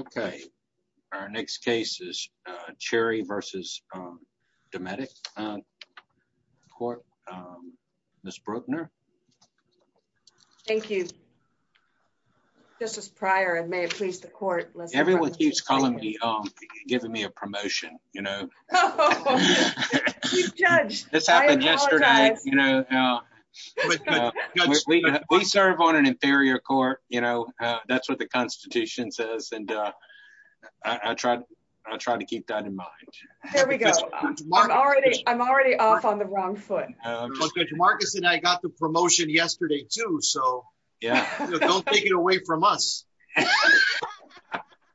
Okay, our next case is Cherry versus Dometic Court, Ms. Bruckner. Thank you, Justice Pryor and may it please the court. Everyone keeps calling me, giving me a promotion, you know. Judge, this happened yesterday. We serve on an inferior court, you know, that's what the Constitution says and I tried. I tried to keep that in mind. There we go. I'm already I'm already off on the wrong foot. Marcus and I got the promotion yesterday too so yeah, don't take it away from us.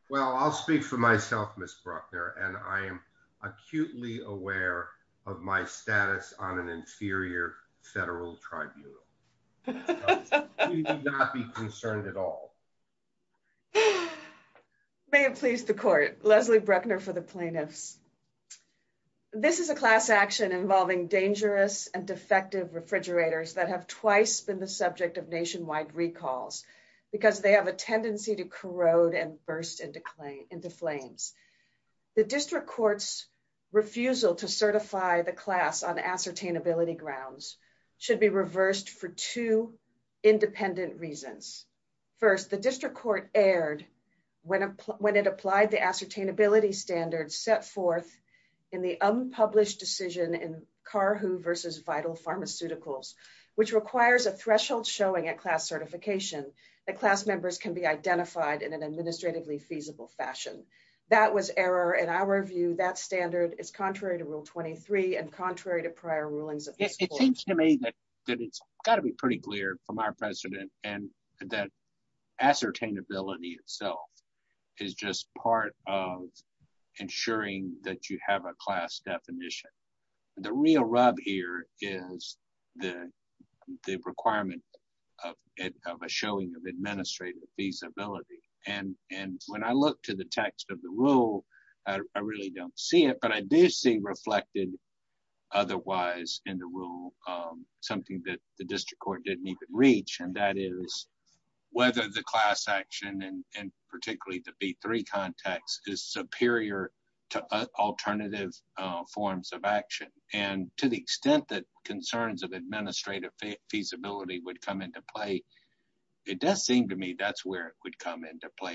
Well, I'll speak for myself, Ms. Bruckner, and I am acutely aware of my status on an inferior federal tribunal. Do not be concerned at all. May it please the court. Leslie Bruckner for the plaintiffs. This is a class action involving dangerous and defective refrigerators that have twice been the subject of nationwide recalls because they have a tendency to corrode and burst into flames. The district court's refusal to certify the class on ascertainability grounds should be reversed for two independent reasons. First, the district court erred when it applied the ascertainability standards set forth in the unpublished decision in Carhu versus Vital Pharmaceuticals, which requires a threshold showing at class certification that class members can be identified in an administratively feasible fashion. That was error in our view that standard is contrary to rule 23 and contrary to prior rulings. It seems to me that it's got to be pretty clear from our president, and that ascertainability itself is just part of ensuring that you have a class definition. The real rub here is the requirement of a showing of administrative feasibility, and when I look to the text of the rule, I really don't see it, but I do see reflected.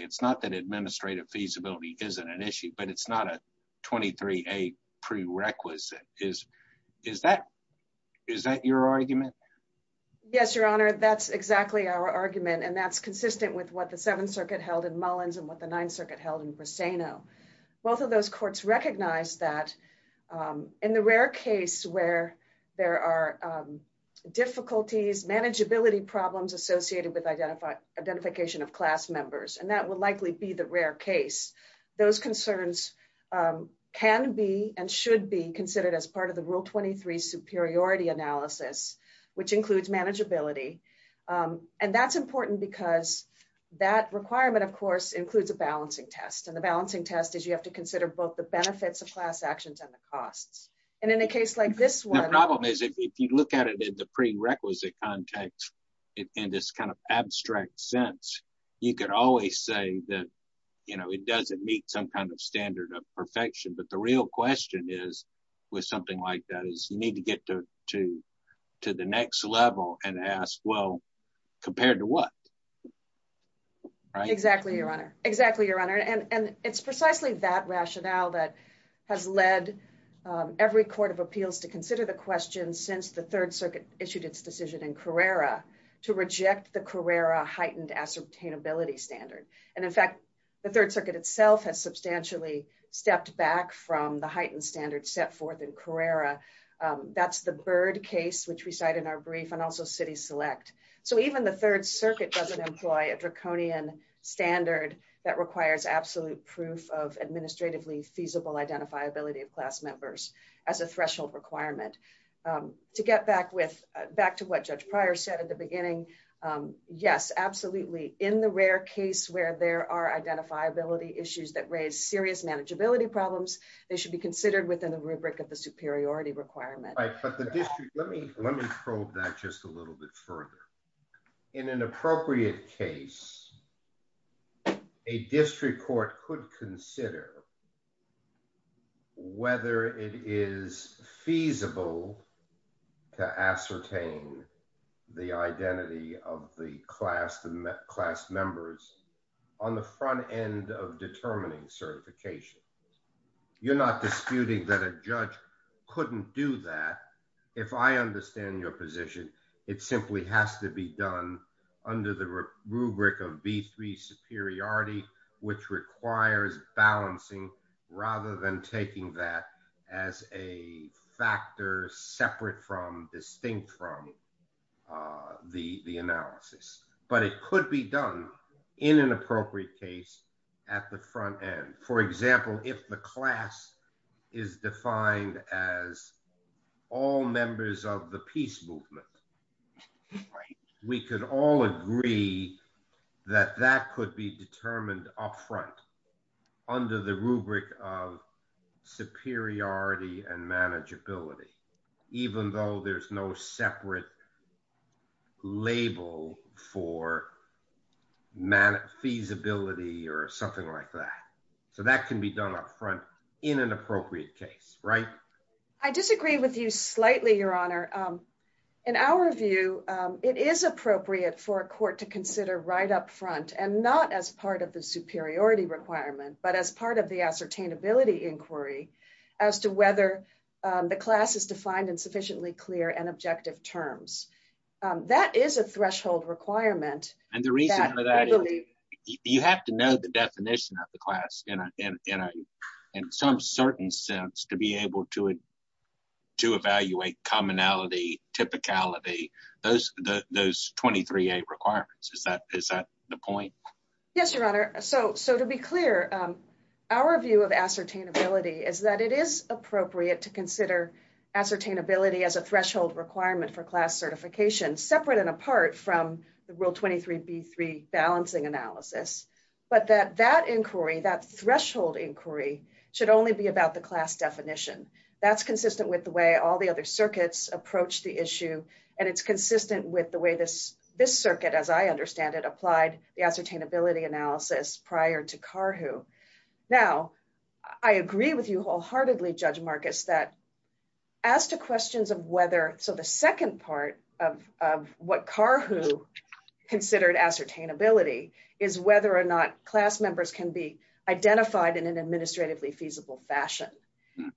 It's not that administrative feasibility isn't an issue, but it's not a 23A prerequisite. Is that your argument? Yes, Your Honor. That's exactly our argument, and that's consistent with what the Seventh Circuit held in Mullins and what the Ninth Circuit held in Briseno. Both of those courts recognized that in the rare case where there are difficulties, manageability problems associated with identification of class members, and that would likely be the rare case, those concerns can be and should be considered as part of the Rule 23 superiority analysis, which includes manageability. And that's important because that requirement, of course, includes a balancing test, and the balancing test is you have to consider both the benefits of class actions and the costs. The problem is if you look at it in the prerequisite context, in this kind of abstract sense, you could always say that it doesn't meet some kind of standard of perfection, but the real question is, with something like that, is you need to get to the next level and ask, well, compared to what? Exactly, Your Honor. Exactly, Your Honor. And it's precisely that rationale that has led every court of appeals to consider the question since the Third Circuit issued its decision in Carrera to reject the Carrera heightened ascertainability standard. And in fact, the Third Circuit itself has substantially stepped back from the heightened standard set forth in Carrera. That's the Byrd case, which we cite in our brief, and also City Select. So even the Third Circuit doesn't employ a draconian standard that requires absolute proof of administratively feasible identifiability of class members as a threshold requirement. To get back to what Judge Pryor said at the beginning, yes, absolutely. In the rare case where there are identifiability issues that raise serious manageability problems, they should be considered within the rubric of the superiority requirement. Let me probe that just a little bit further. In an appropriate case, a district court could consider whether it is feasible to ascertain the identity of the class members on the front end of determining certification. You're not disputing that a judge couldn't do that. If I understand your position, it simply has to be done under the rubric of B3 superiority, which requires balancing rather than taking that as a factor separate from distinct from the analysis. But it could be done in an appropriate case at the front end. For example, if the class is defined as all members of the peace movement, we could all agree that that could be determined up front under the rubric of superiority and manageability, even though there's no separate label for feasibility or something like that. So that can be done up front in an appropriate case, right? I disagree with you slightly, Your Honor. In our view, it is appropriate for a court to consider right up front and not as part of the superiority requirement, but as part of the ascertainability inquiry as to whether the class is defined in sufficiently clear and objective terms. That is a threshold requirement. And the reason for that is you have to know the definition of the class in some certain sense to be able to evaluate commonality, typicality, those 23A requirements. Is that the point? Yes, Your Honor. So to be clear, our view of ascertainability is that it is appropriate to consider ascertainability as a threshold requirement for class certification separate and apart from the Rule 23B3 balancing analysis, but that that inquiry, that threshold inquiry, should only be about the class definition. That's consistent with the way all the other circuits approach the issue, and it's consistent with the way this circuit, as I understand it, applied the ascertainability analysis prior to Carhu. Now, I agree with you wholeheartedly, Judge Marcus, that as to questions of whether – so the second part of what Carhu considered ascertainability is whether or not class members can be identified in an administratively feasible fashion.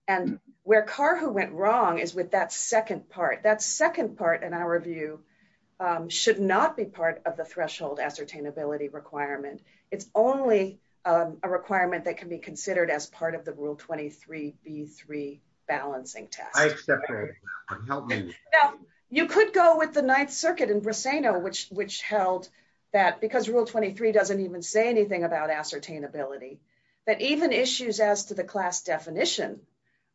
And where Carhu went wrong is with that second part. That second part, in our view, should not be part of the threshold ascertainability requirement. It's only a requirement that can be considered as part of the Rule 23B3 balancing test. I accept that. Help me. Now, you could go with the Ninth Circuit in Briseno, which held that because Rule 23 doesn't even say anything about ascertainability, that even issues as to the class definition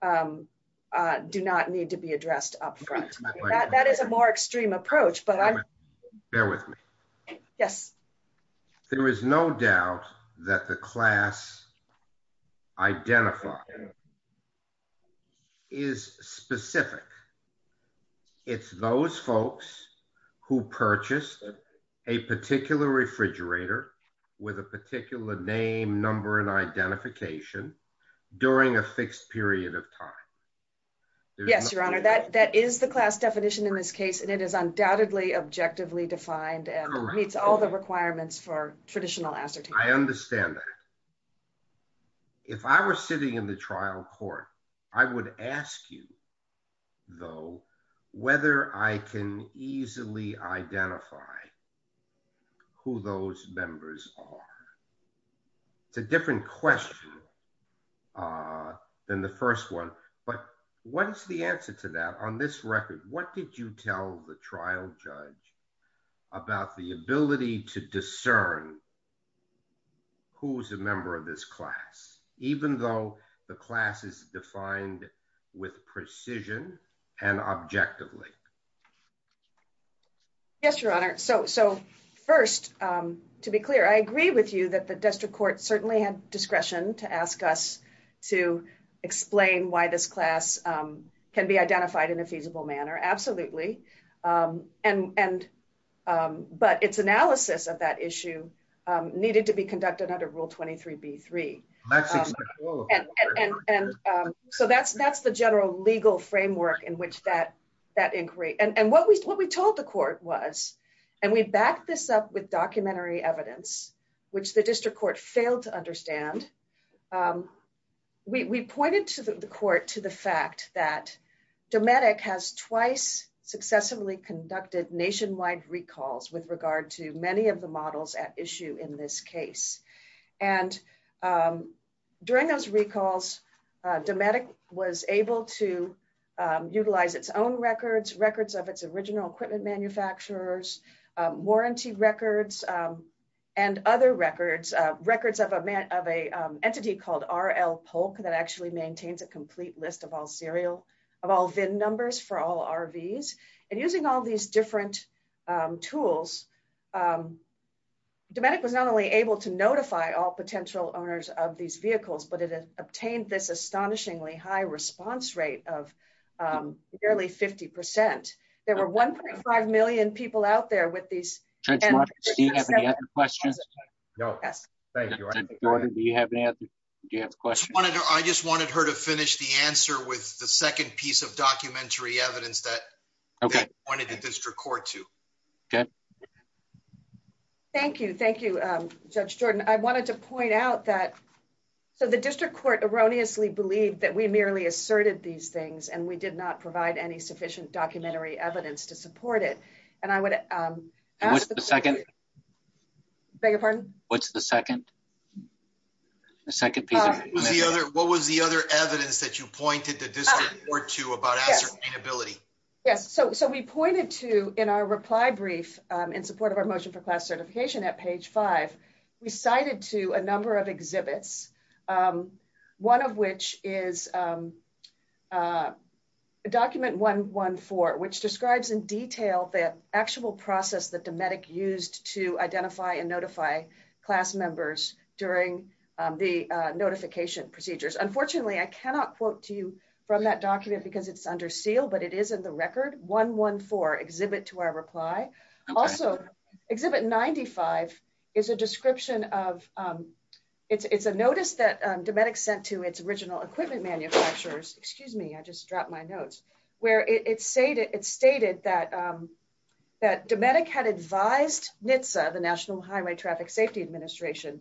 do not need to be addressed up front. That is a more extreme approach. Bear with me. Yes. There is no doubt that the class identified is specific. It's those folks who purchased a particular refrigerator with a particular name, number, and identification during a fixed period of time. Yes, Your Honor, that is the class definition in this case, and it is undoubtedly objectively defined and meets all the requirements for traditional ascertainability. I understand that. If I were sitting in the trial court, I would ask you, though, whether I can easily identify who those members are. It's a different question than the first one, but what is the answer to that? On this record, what did you tell the trial judge about the ability to discern who is a member of this class, even though the class is defined with precision and objectively? Yes, Your Honor. First, to be clear, I agree with you that the district court certainly had discretion to ask us to explain why this class can be identified in a feasible manner. Absolutely. But its analysis of that issue needed to be conducted under Rule 23b-3. So that's the general legal framework in which that inquiry—and what we told the court was, and we backed this up with documentary evidence, which the district court failed to understand. We pointed to the court to the fact that Dometic has twice successively conducted nationwide recalls with regard to many of the models at issue in this case. And during those recalls, Dometic was able to utilize its own records, records of its original equipment manufacturers, warranty records, and other records, records of an entity called R.L. Polk that actually maintains a complete list of all VIN numbers for all RVs. And using all these different tools, Dometic was not only able to notify all potential owners of these vehicles, but it obtained this astonishingly high response rate of nearly 50 percent. There were 1.5 million people out there with these— Judge Roberts, do you have any other questions? Yes. Thank you, Your Honor. Do you have any other questions? I just wanted her to finish the answer with the second piece of documentary evidence that— Okay. —they pointed the district court to. Okay. Thank you. Thank you, Judge Jordan. I wanted to point out that—so the district court erroneously believed that we merely asserted these things, and we did not provide any sufficient documentary evidence to support it. And I would— And what's the second? Beg your pardon? What's the second? The second piece of— What was the other evidence that you pointed the district court to about ascertainability? Yes. So we pointed to, in our reply brief in support of our motion for class certification at page 5, we cited to a number of exhibits, one of which is document 114, which describes in detail the actual process that Dometic used to identify and notify class members during the notification procedures. Unfortunately, I cannot quote to you from that document because it's under seal, but it is in the record. 114, exhibit to our reply. Okay. Also, exhibit 95 is a description of—it's a notice that Dometic sent to its original equipment manufacturers—excuse me, I just dropped my notes—where it stated that Dometic had advised NHTSA, the National Highway Traffic Safety Administration,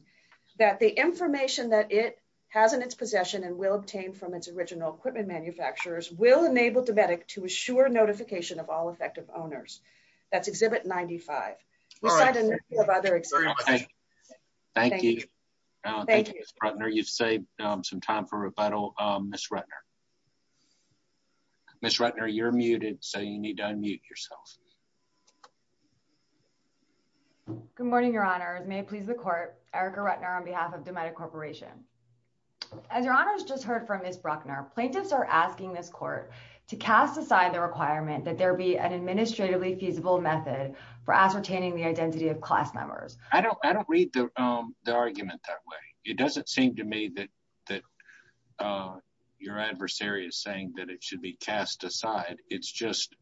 that the information that it has in its possession and will obtain from its original equipment manufacturers will enable Dometic to assure notification of all effective owners. That's exhibit 95. All right. We cited a number of other exhibits. Thank you. Thank you, Ms. Rettner. You've saved some time for rebuttal. Ms. Rettner. Ms. Rettner, you're muted, so you need to unmute yourself. Good morning, Your Honor. May it please the court, Erica Rettner on behalf of Dometic Corporation. As Your Honor has just heard from Ms. Bruckner, plaintiffs are asking this court to cast aside the requirement that there be an administratively feasible method for ascertaining the identity of class members. I don't read the argument that way. It doesn't seem to me that your adversary is saying that it should be cast aside. It's just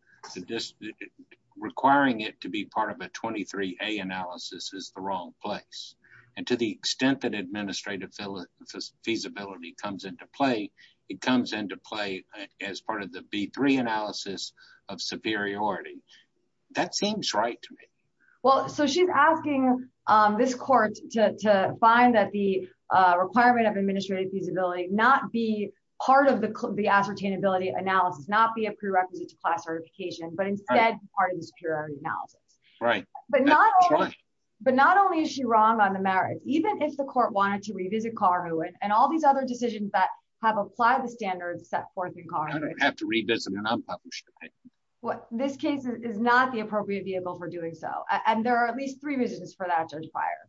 requiring it to be part of a 23A analysis is the wrong place. And to the extent that administrative feasibility comes into play, it comes into play as part of the B3 analysis of superiority. That seems right to me. Well, so she's asking this court to find that the requirement of administrative feasibility not be part of the ascertainability analysis, not be a prerequisite to class certification, but instead be part of the superiority analysis. Right. But not only is she wrong on the merits, even if the court wanted to revisit Kaur Nguyen and all these other decisions that have applied the standards set forth in Kaur Nguyen. I don't have to revisit it. I'm published. This case is not the appropriate vehicle for doing so, and there are at least three reasons for that, Judge Pryor.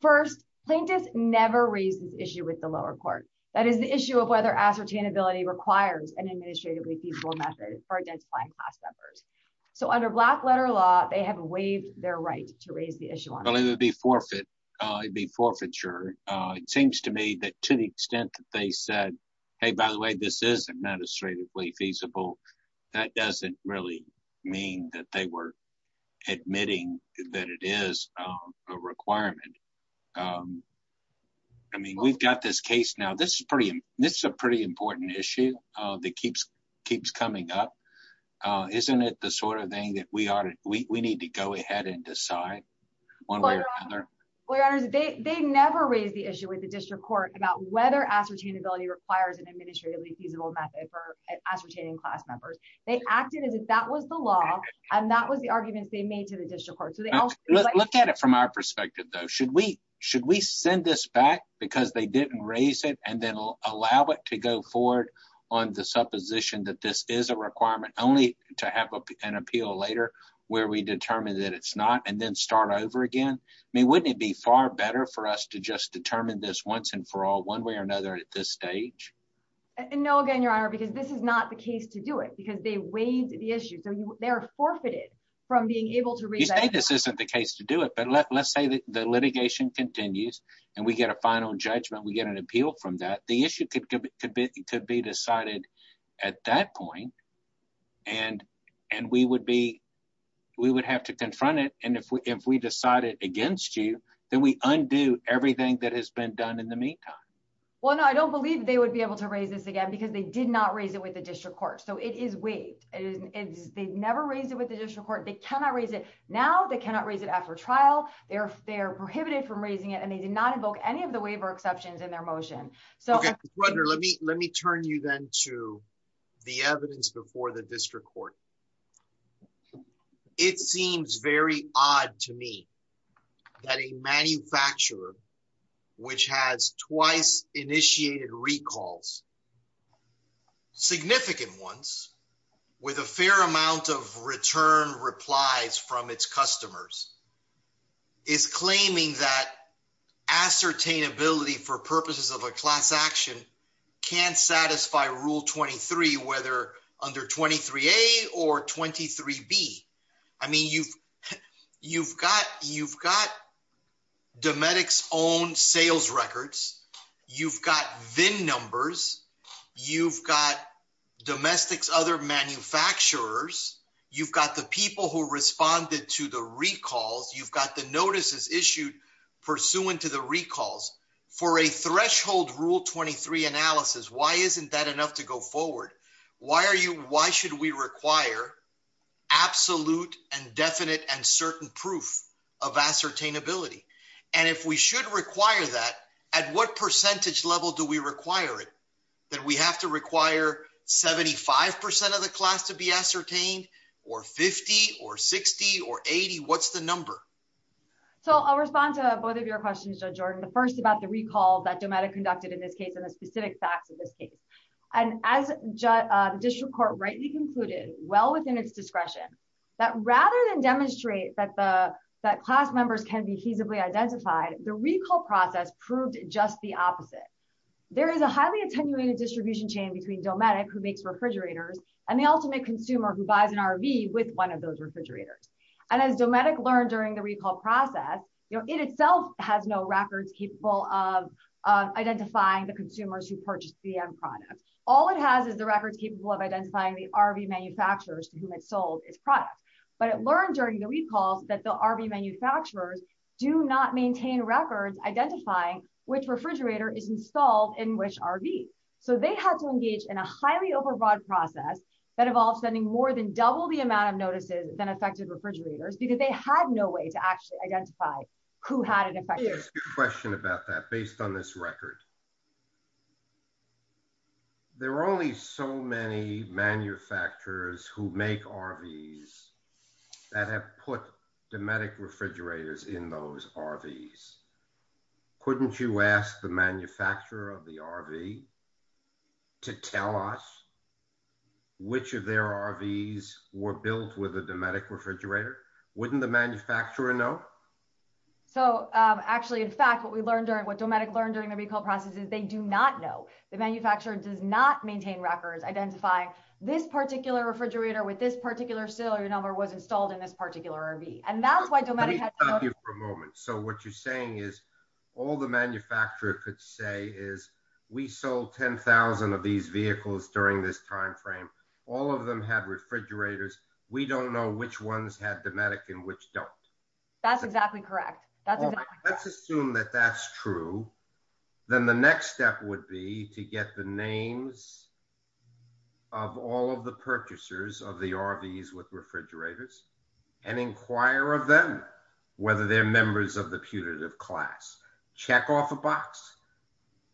First, plaintiffs never raise this issue with the lower court. That is the issue of whether ascertainability requires an administratively feasible method for identifying class members. So under black letter law, they have waived their right to raise the issue. It would be forfeit. It would be forfeiture. It seems to me that to the extent that they said, hey, by the way, this is administratively feasible, that doesn't really mean that they were admitting that it is a requirement. I mean, we've got this case now. This is a pretty important issue that keeps coming up. Isn't it the sort of thing that we need to go ahead and decide? Well, your honor, they never raised the issue with the district court about whether ascertainability requires an administratively feasible method for ascertaining class members. They acted as if that was the law and that was the arguments they made to the district court. Look at it from our perspective, though. Should we should we send this back because they didn't raise it and then allow it to go forward on the supposition that this is a requirement only to have an appeal later where we determine that it's not and then start over again? I mean, wouldn't it be far better for us to just determine this once and for all one way or another at this stage? No, again, your honor, because this is not the case to do it because they waived the issue. So they are forfeited from being able to say this isn't the case to do it. But let's say the litigation continues and we get a final judgment, we get an appeal from that. The issue could be could be could be decided at that point. And and we would be we would have to confront it. And if we if we decided against you, then we undo everything that has been done in the meantime. Well, I don't believe they would be able to raise this again because they did not raise it with the district court. So it is waived and they never raised it with the district court. They cannot raise it now. They cannot raise it after trial. They're they're prohibited from raising it and they did not invoke any of the waiver exceptions in their motion. So let me let me turn you then to the evidence before the district court. It seems very odd to me that a manufacturer which has twice initiated recalls. Significant ones with a fair amount of return replies from its customers. Is claiming that ascertain ability for purposes of a class action can satisfy rule 23, whether under 23 or 23 B. I mean, you've you've got you've got Dometic's own sales records. You've got VIN numbers. You've got Dometic's other manufacturers. You've got the people who responded to the recalls. You've got the notices issued pursuant to the recalls for a threshold rule 23 analysis. Why isn't that enough to go forward? Why are you why should we require absolute and definite and certain proof of ascertain ability? And if we should require that, at what percentage level do we require it that we have to require 75 percent of the class to be ascertained or 50 or 60 or 80? What's the number? So I'll respond to both of your questions. Jordan, the first about the recall that Dometic conducted in this case and the specific facts of this case. And as the district court rightly concluded, well within its discretion, that rather than demonstrate that the that class members can be feasibly identified, the recall process proved just the opposite. There is a highly attenuated distribution chain between Dometic who makes refrigerators and the ultimate consumer who buys an RV with one of those refrigerators. And as Dometic learned during the recall process, it itself has no records capable of identifying the consumers who purchased the end product. All it has is the records capable of identifying the RV manufacturers to whom it sold its product. But it learned during the recalls that the RV manufacturers do not maintain records identifying which refrigerator is installed in which RV. So they had to engage in a highly overbroad process that involves sending more than double the amount of notices than affected refrigerators because they had no way to actually identify who had an effect. Let me ask you a question about that based on this record. There are only so many manufacturers who make RVs that have put Dometic refrigerators in those RVs. Couldn't you ask the manufacturer of the RV to tell us which of their RVs were built with a Dometic refrigerator? Wouldn't the manufacturer know? So actually, in fact, what we learned, what Dometic learned during the recall process is they do not know. The manufacturer does not maintain records identifying this particular refrigerator with this particular sale or your number was installed in this particular RV. And that's why Dometic had to know. Let me stop you for a moment. So what you're saying is all the manufacturer could say is we sold 10,000 of these vehicles during this timeframe. All of them had refrigerators. We don't know which ones had Dometic and which don't. That's exactly correct. Let's assume that that's true. Then the next step would be to get the names of all of the purchasers of the RVs with refrigerators and inquire of them whether they're members of the putative class. Check off a box.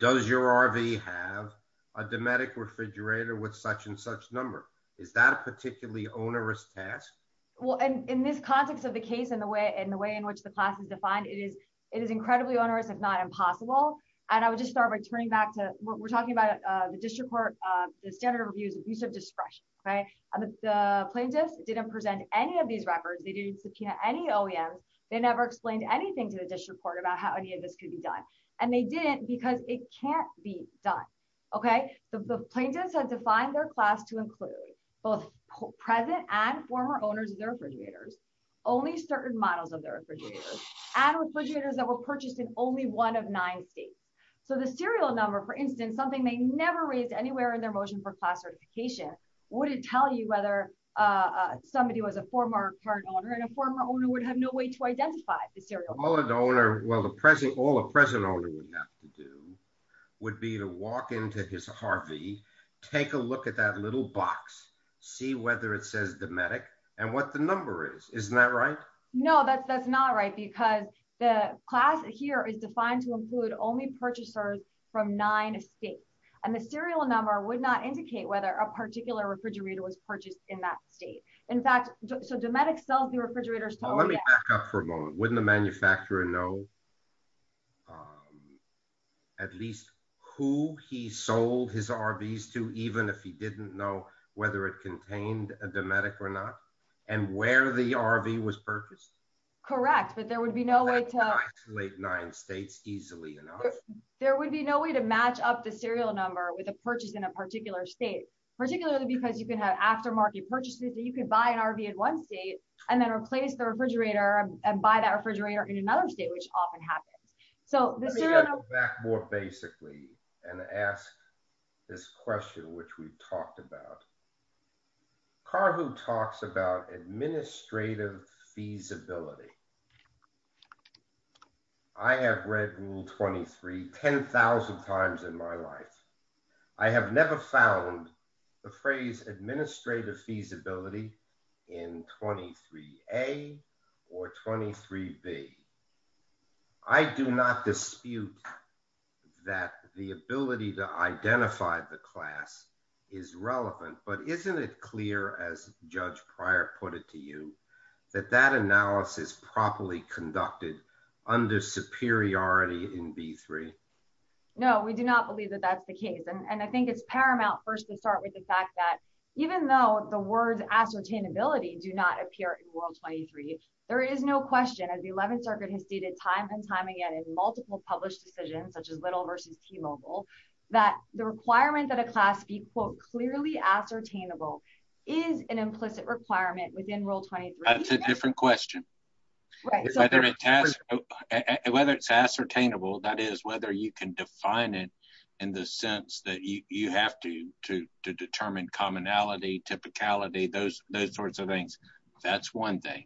Does your RV have a Dometic refrigerator with such and such number? Is that a particularly onerous task? Well, in this context of the case and the way in which the class is defined, it is incredibly onerous, if not impossible. And I would just start by turning back to what we're talking about, the district court, the standard of abuse of discretion. The plaintiffs didn't present any of these records. They didn't subpoena any OEMs. They never explained anything to the district court about how any of this could be done. And they didn't because it can't be done. The plaintiffs had defined their class to include both present and former owners of their refrigerators, only certain models of their refrigerators, and refrigerators that were purchased in only one of nine states. So the serial number, for instance, something they never raised anywhere in their motion for class certification, wouldn't tell you whether somebody was a former car owner and a former owner would have no way to identify the serial number. All a present owner would have to do would be to walk into his Harvey, take a look at that little box, see whether it says Dometic, and what the number is. Isn't that right? No, that's not right, because the class here is defined to include only purchasers from nine states. And the serial number would not indicate whether a particular refrigerator was purchased in that state. In fact, so Dometic sells the refrigerators. Wouldn't the manufacturer know at least who he sold his RVs to even if he didn't know whether it contained a Dometic or not, and where the RV was purchased. Correct, but there would be no way to isolate nine states easily enough. There would be no way to match up the serial number with a purchase in a particular state, particularly because you can have aftermarket purchases that you can buy an RV in one state, and then replace the refrigerator and buy that refrigerator in another state, which often happens. Let me go back more basically and ask this question, which we've talked about. Carhu talks about administrative feasibility. I have read Rule 23 10,000 times in my life. I have never found the phrase administrative feasibility in 23A or 23B. I do not dispute that the ability to identify the class is relevant, but isn't it clear as Judge Prior put it to you that that analysis properly conducted under superiority in B3? No, we do not believe that that's the case. I think it's paramount first to start with the fact that even though the words ascertainability do not appear in Rule 23, there is no question as the 11th Circuit has stated time and time again in multiple published decisions, such as Little v. T-Mobile, that the requirement that a class be clearly ascertainable is an implicit requirement within Rule 23. That's a different question. Whether it's ascertainable, that is, whether you can define it in the sense that you have to determine commonality, typicality, those sorts of things, that's one thing.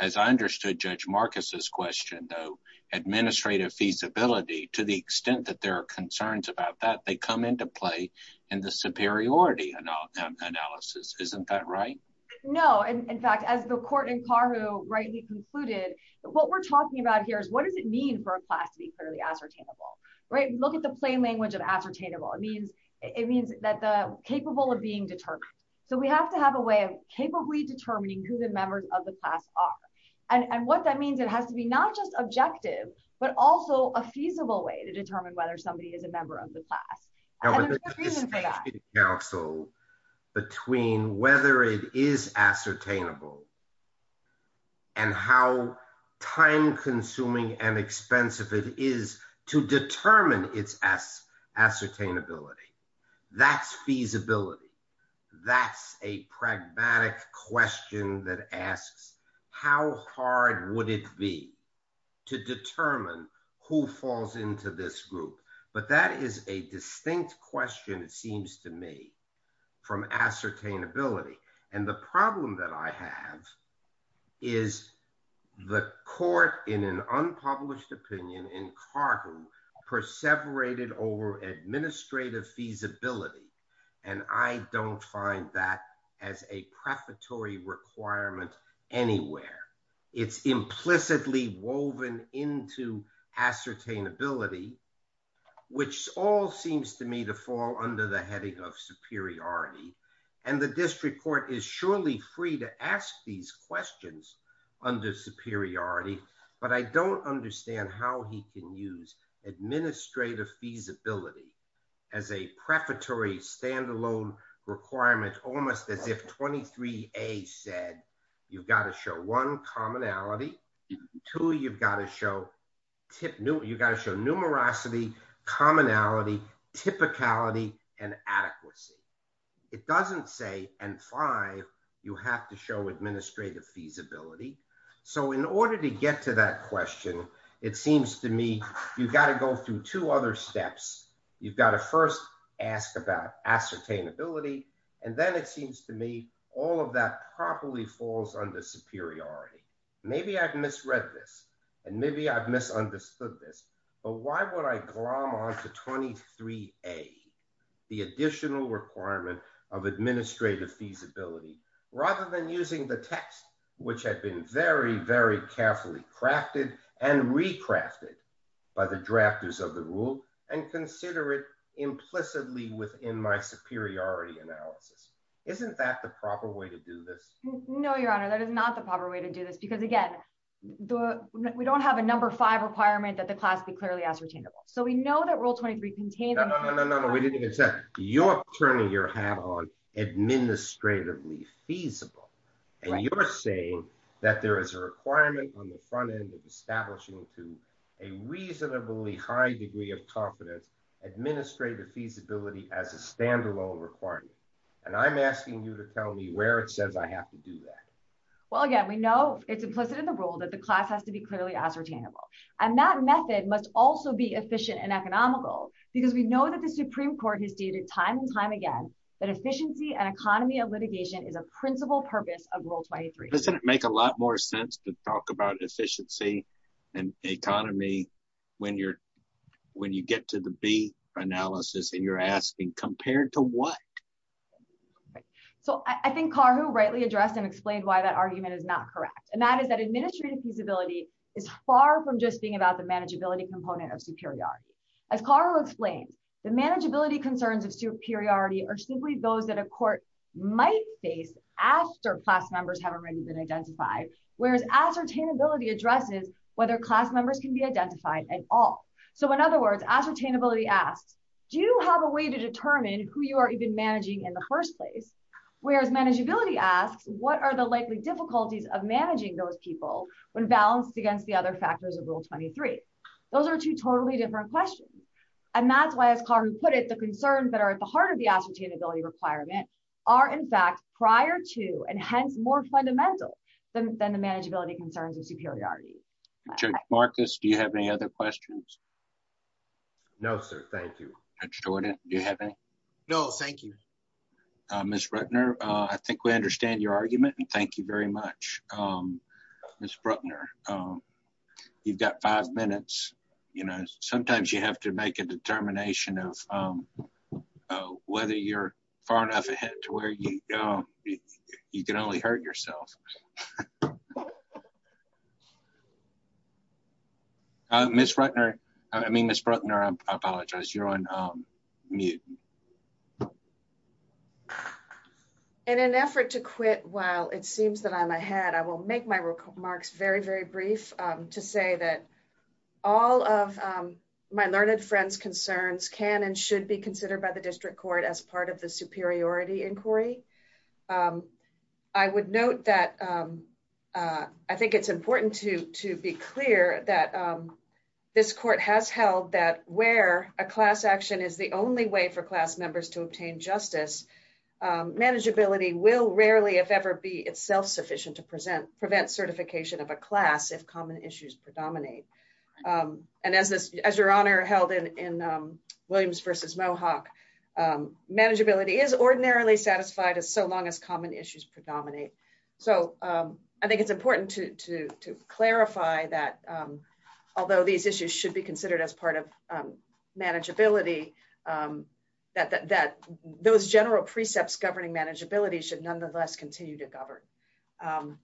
As I understood Judge Marcus's question, though, administrative feasibility, to the extent that there are concerns about that, they come into play in the superiority analysis. Isn't that right? No. In fact, as the court in Carhu rightly concluded, what we're talking about here is what does it mean for a class to be clearly ascertainable? Right? Look at the plain language of ascertainable. It means that the capable of being determined. So we have to have a way of capably determining who the members of the class are. And what that means, it has to be not just objective, but also a feasible way to determine whether somebody is a member of the class. And there's a distinction, counsel, between whether it is ascertainable and how time-consuming and expensive it is to determine its ascertainability. That's feasibility. That's a pragmatic question that asks how hard would it be to determine who falls into this group? But that is a distinct question, it seems to me, from ascertainability. And the problem that I have is the court in an unpublished opinion in Carhu perseverated over administrative feasibility. And I don't find that as a prefatory requirement anywhere. It's implicitly woven into ascertainability, which all seems to me to fall under the heading of superiority. And the district court is surely free to ask these questions under superiority. But I don't understand how he can use administrative feasibility as a prefatory standalone requirement, almost as if 23A said, you've got to show one, commonality. Two, you've got to show numerosity, commonality, typicality, and adequacy. It doesn't say, and five, you have to show administrative feasibility. So in order to get to that question, it seems to me you've got to go through two other steps. You've got to first ask about ascertainability. And then it seems to me all of that probably falls under superiority. Maybe I've misread this. And maybe I've misunderstood this. But why would I glom onto 23A, the additional requirement of administrative feasibility, rather than using the text, which had been very, very carefully crafted and recrafted by the drafters of the rule, and consider it implicitly within my superiority analysis? Isn't that the proper way to do this? No, Your Honor. That is not the proper way to do this. Because again, we don't have a number five requirement that the class be clearly ascertainable. So we know that Rule 23 contains— No, no, no, no, no. We didn't even say that. You're turning your hat on administratively feasible. And you're saying that there is a requirement on the front end of establishing to a reasonably high degree of confidence administrative feasibility as a standalone requirement. And I'm asking you to tell me where it says I have to do that. Well, again, we know it's implicit in the rule that the class has to be clearly ascertainable. And that method must also be efficient and economical, because we know that the Supreme Court has stated time and time again that efficiency and economy of litigation is a principal purpose of Rule 23. Doesn't it make a lot more sense to talk about efficiency and economy when you get to the B analysis and you're asking compared to what? So I think Carhu rightly addressed and explained why that argument is not correct. And that is that administrative feasibility is far from just being about the manageability component of superiority. As Carhu explains, the manageability concerns of superiority are simply those that a court might face after class members have already been identified, whereas ascertainability addresses whether class members can be identified at all. So in other words, ascertainability asks, do you have a way to determine who you are even managing in the first place? Whereas manageability asks, what are the likely difficulties of managing those people when balanced against the other factors of Rule 23? Those are two totally different questions. And that's why, as Carhu put it, the concerns that are at the heart of the ascertainability requirement are, in fact, prior to and hence more fundamental than the manageability concerns of superiority. Judge Marcus, do you have any other questions? No, sir. Thank you. Judge Jordan, do you have any? No, thank you. Ms. Rutner, I think we understand your argument and thank you very much. Ms. Rutner, you've got five minutes. Sometimes you have to make a determination of whether you're far enough ahead to where you can only hurt yourself. Ms. Rutner, I mean, Ms. Rutner, I apologize, you're on mute. In an effort to quit while it seems that I'm ahead, I will make my remarks very, very brief to say that all of my learned friends' concerns can and should be considered by the district court as part of the superiority inquiry. I would note that I think it's important to be clear that this court has held that where a class action is the only way for class members to obtain justice, manageability will rarely, if ever, be itself sufficient to prevent certification of a class if common issues predominate. And as your Honor held in Williams v. Mohawk, manageability is ordinarily satisfied so long as common issues predominate. So I think it's important to clarify that although these issues should be considered as part of manageability, that those general precepts governing manageability should nonetheless continue to govern.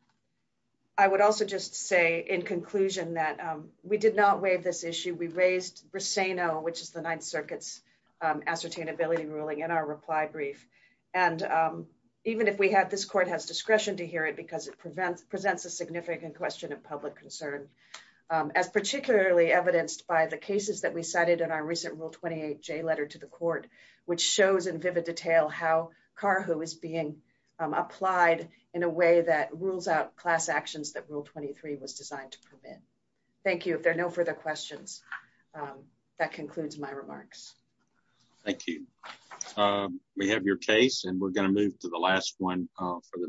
I would also just say in conclusion that we did not waive this issue. We raised Briseno, which is the Ninth Circuit's ascertainability ruling, in our reply brief. And even if we had, this court has discretion to hear it because it presents a significant question of public concern. As particularly evidenced by the cases that we cited in our recent Rule 28J letter to the court, which shows in vivid detail how CARHOO is being applied in a way that rules out class actions that Rule 23 was designed to permit. Thank you. If there are no further questions, that concludes my remarks. Thank you. We have your case and we're going to move to the last one for the morning.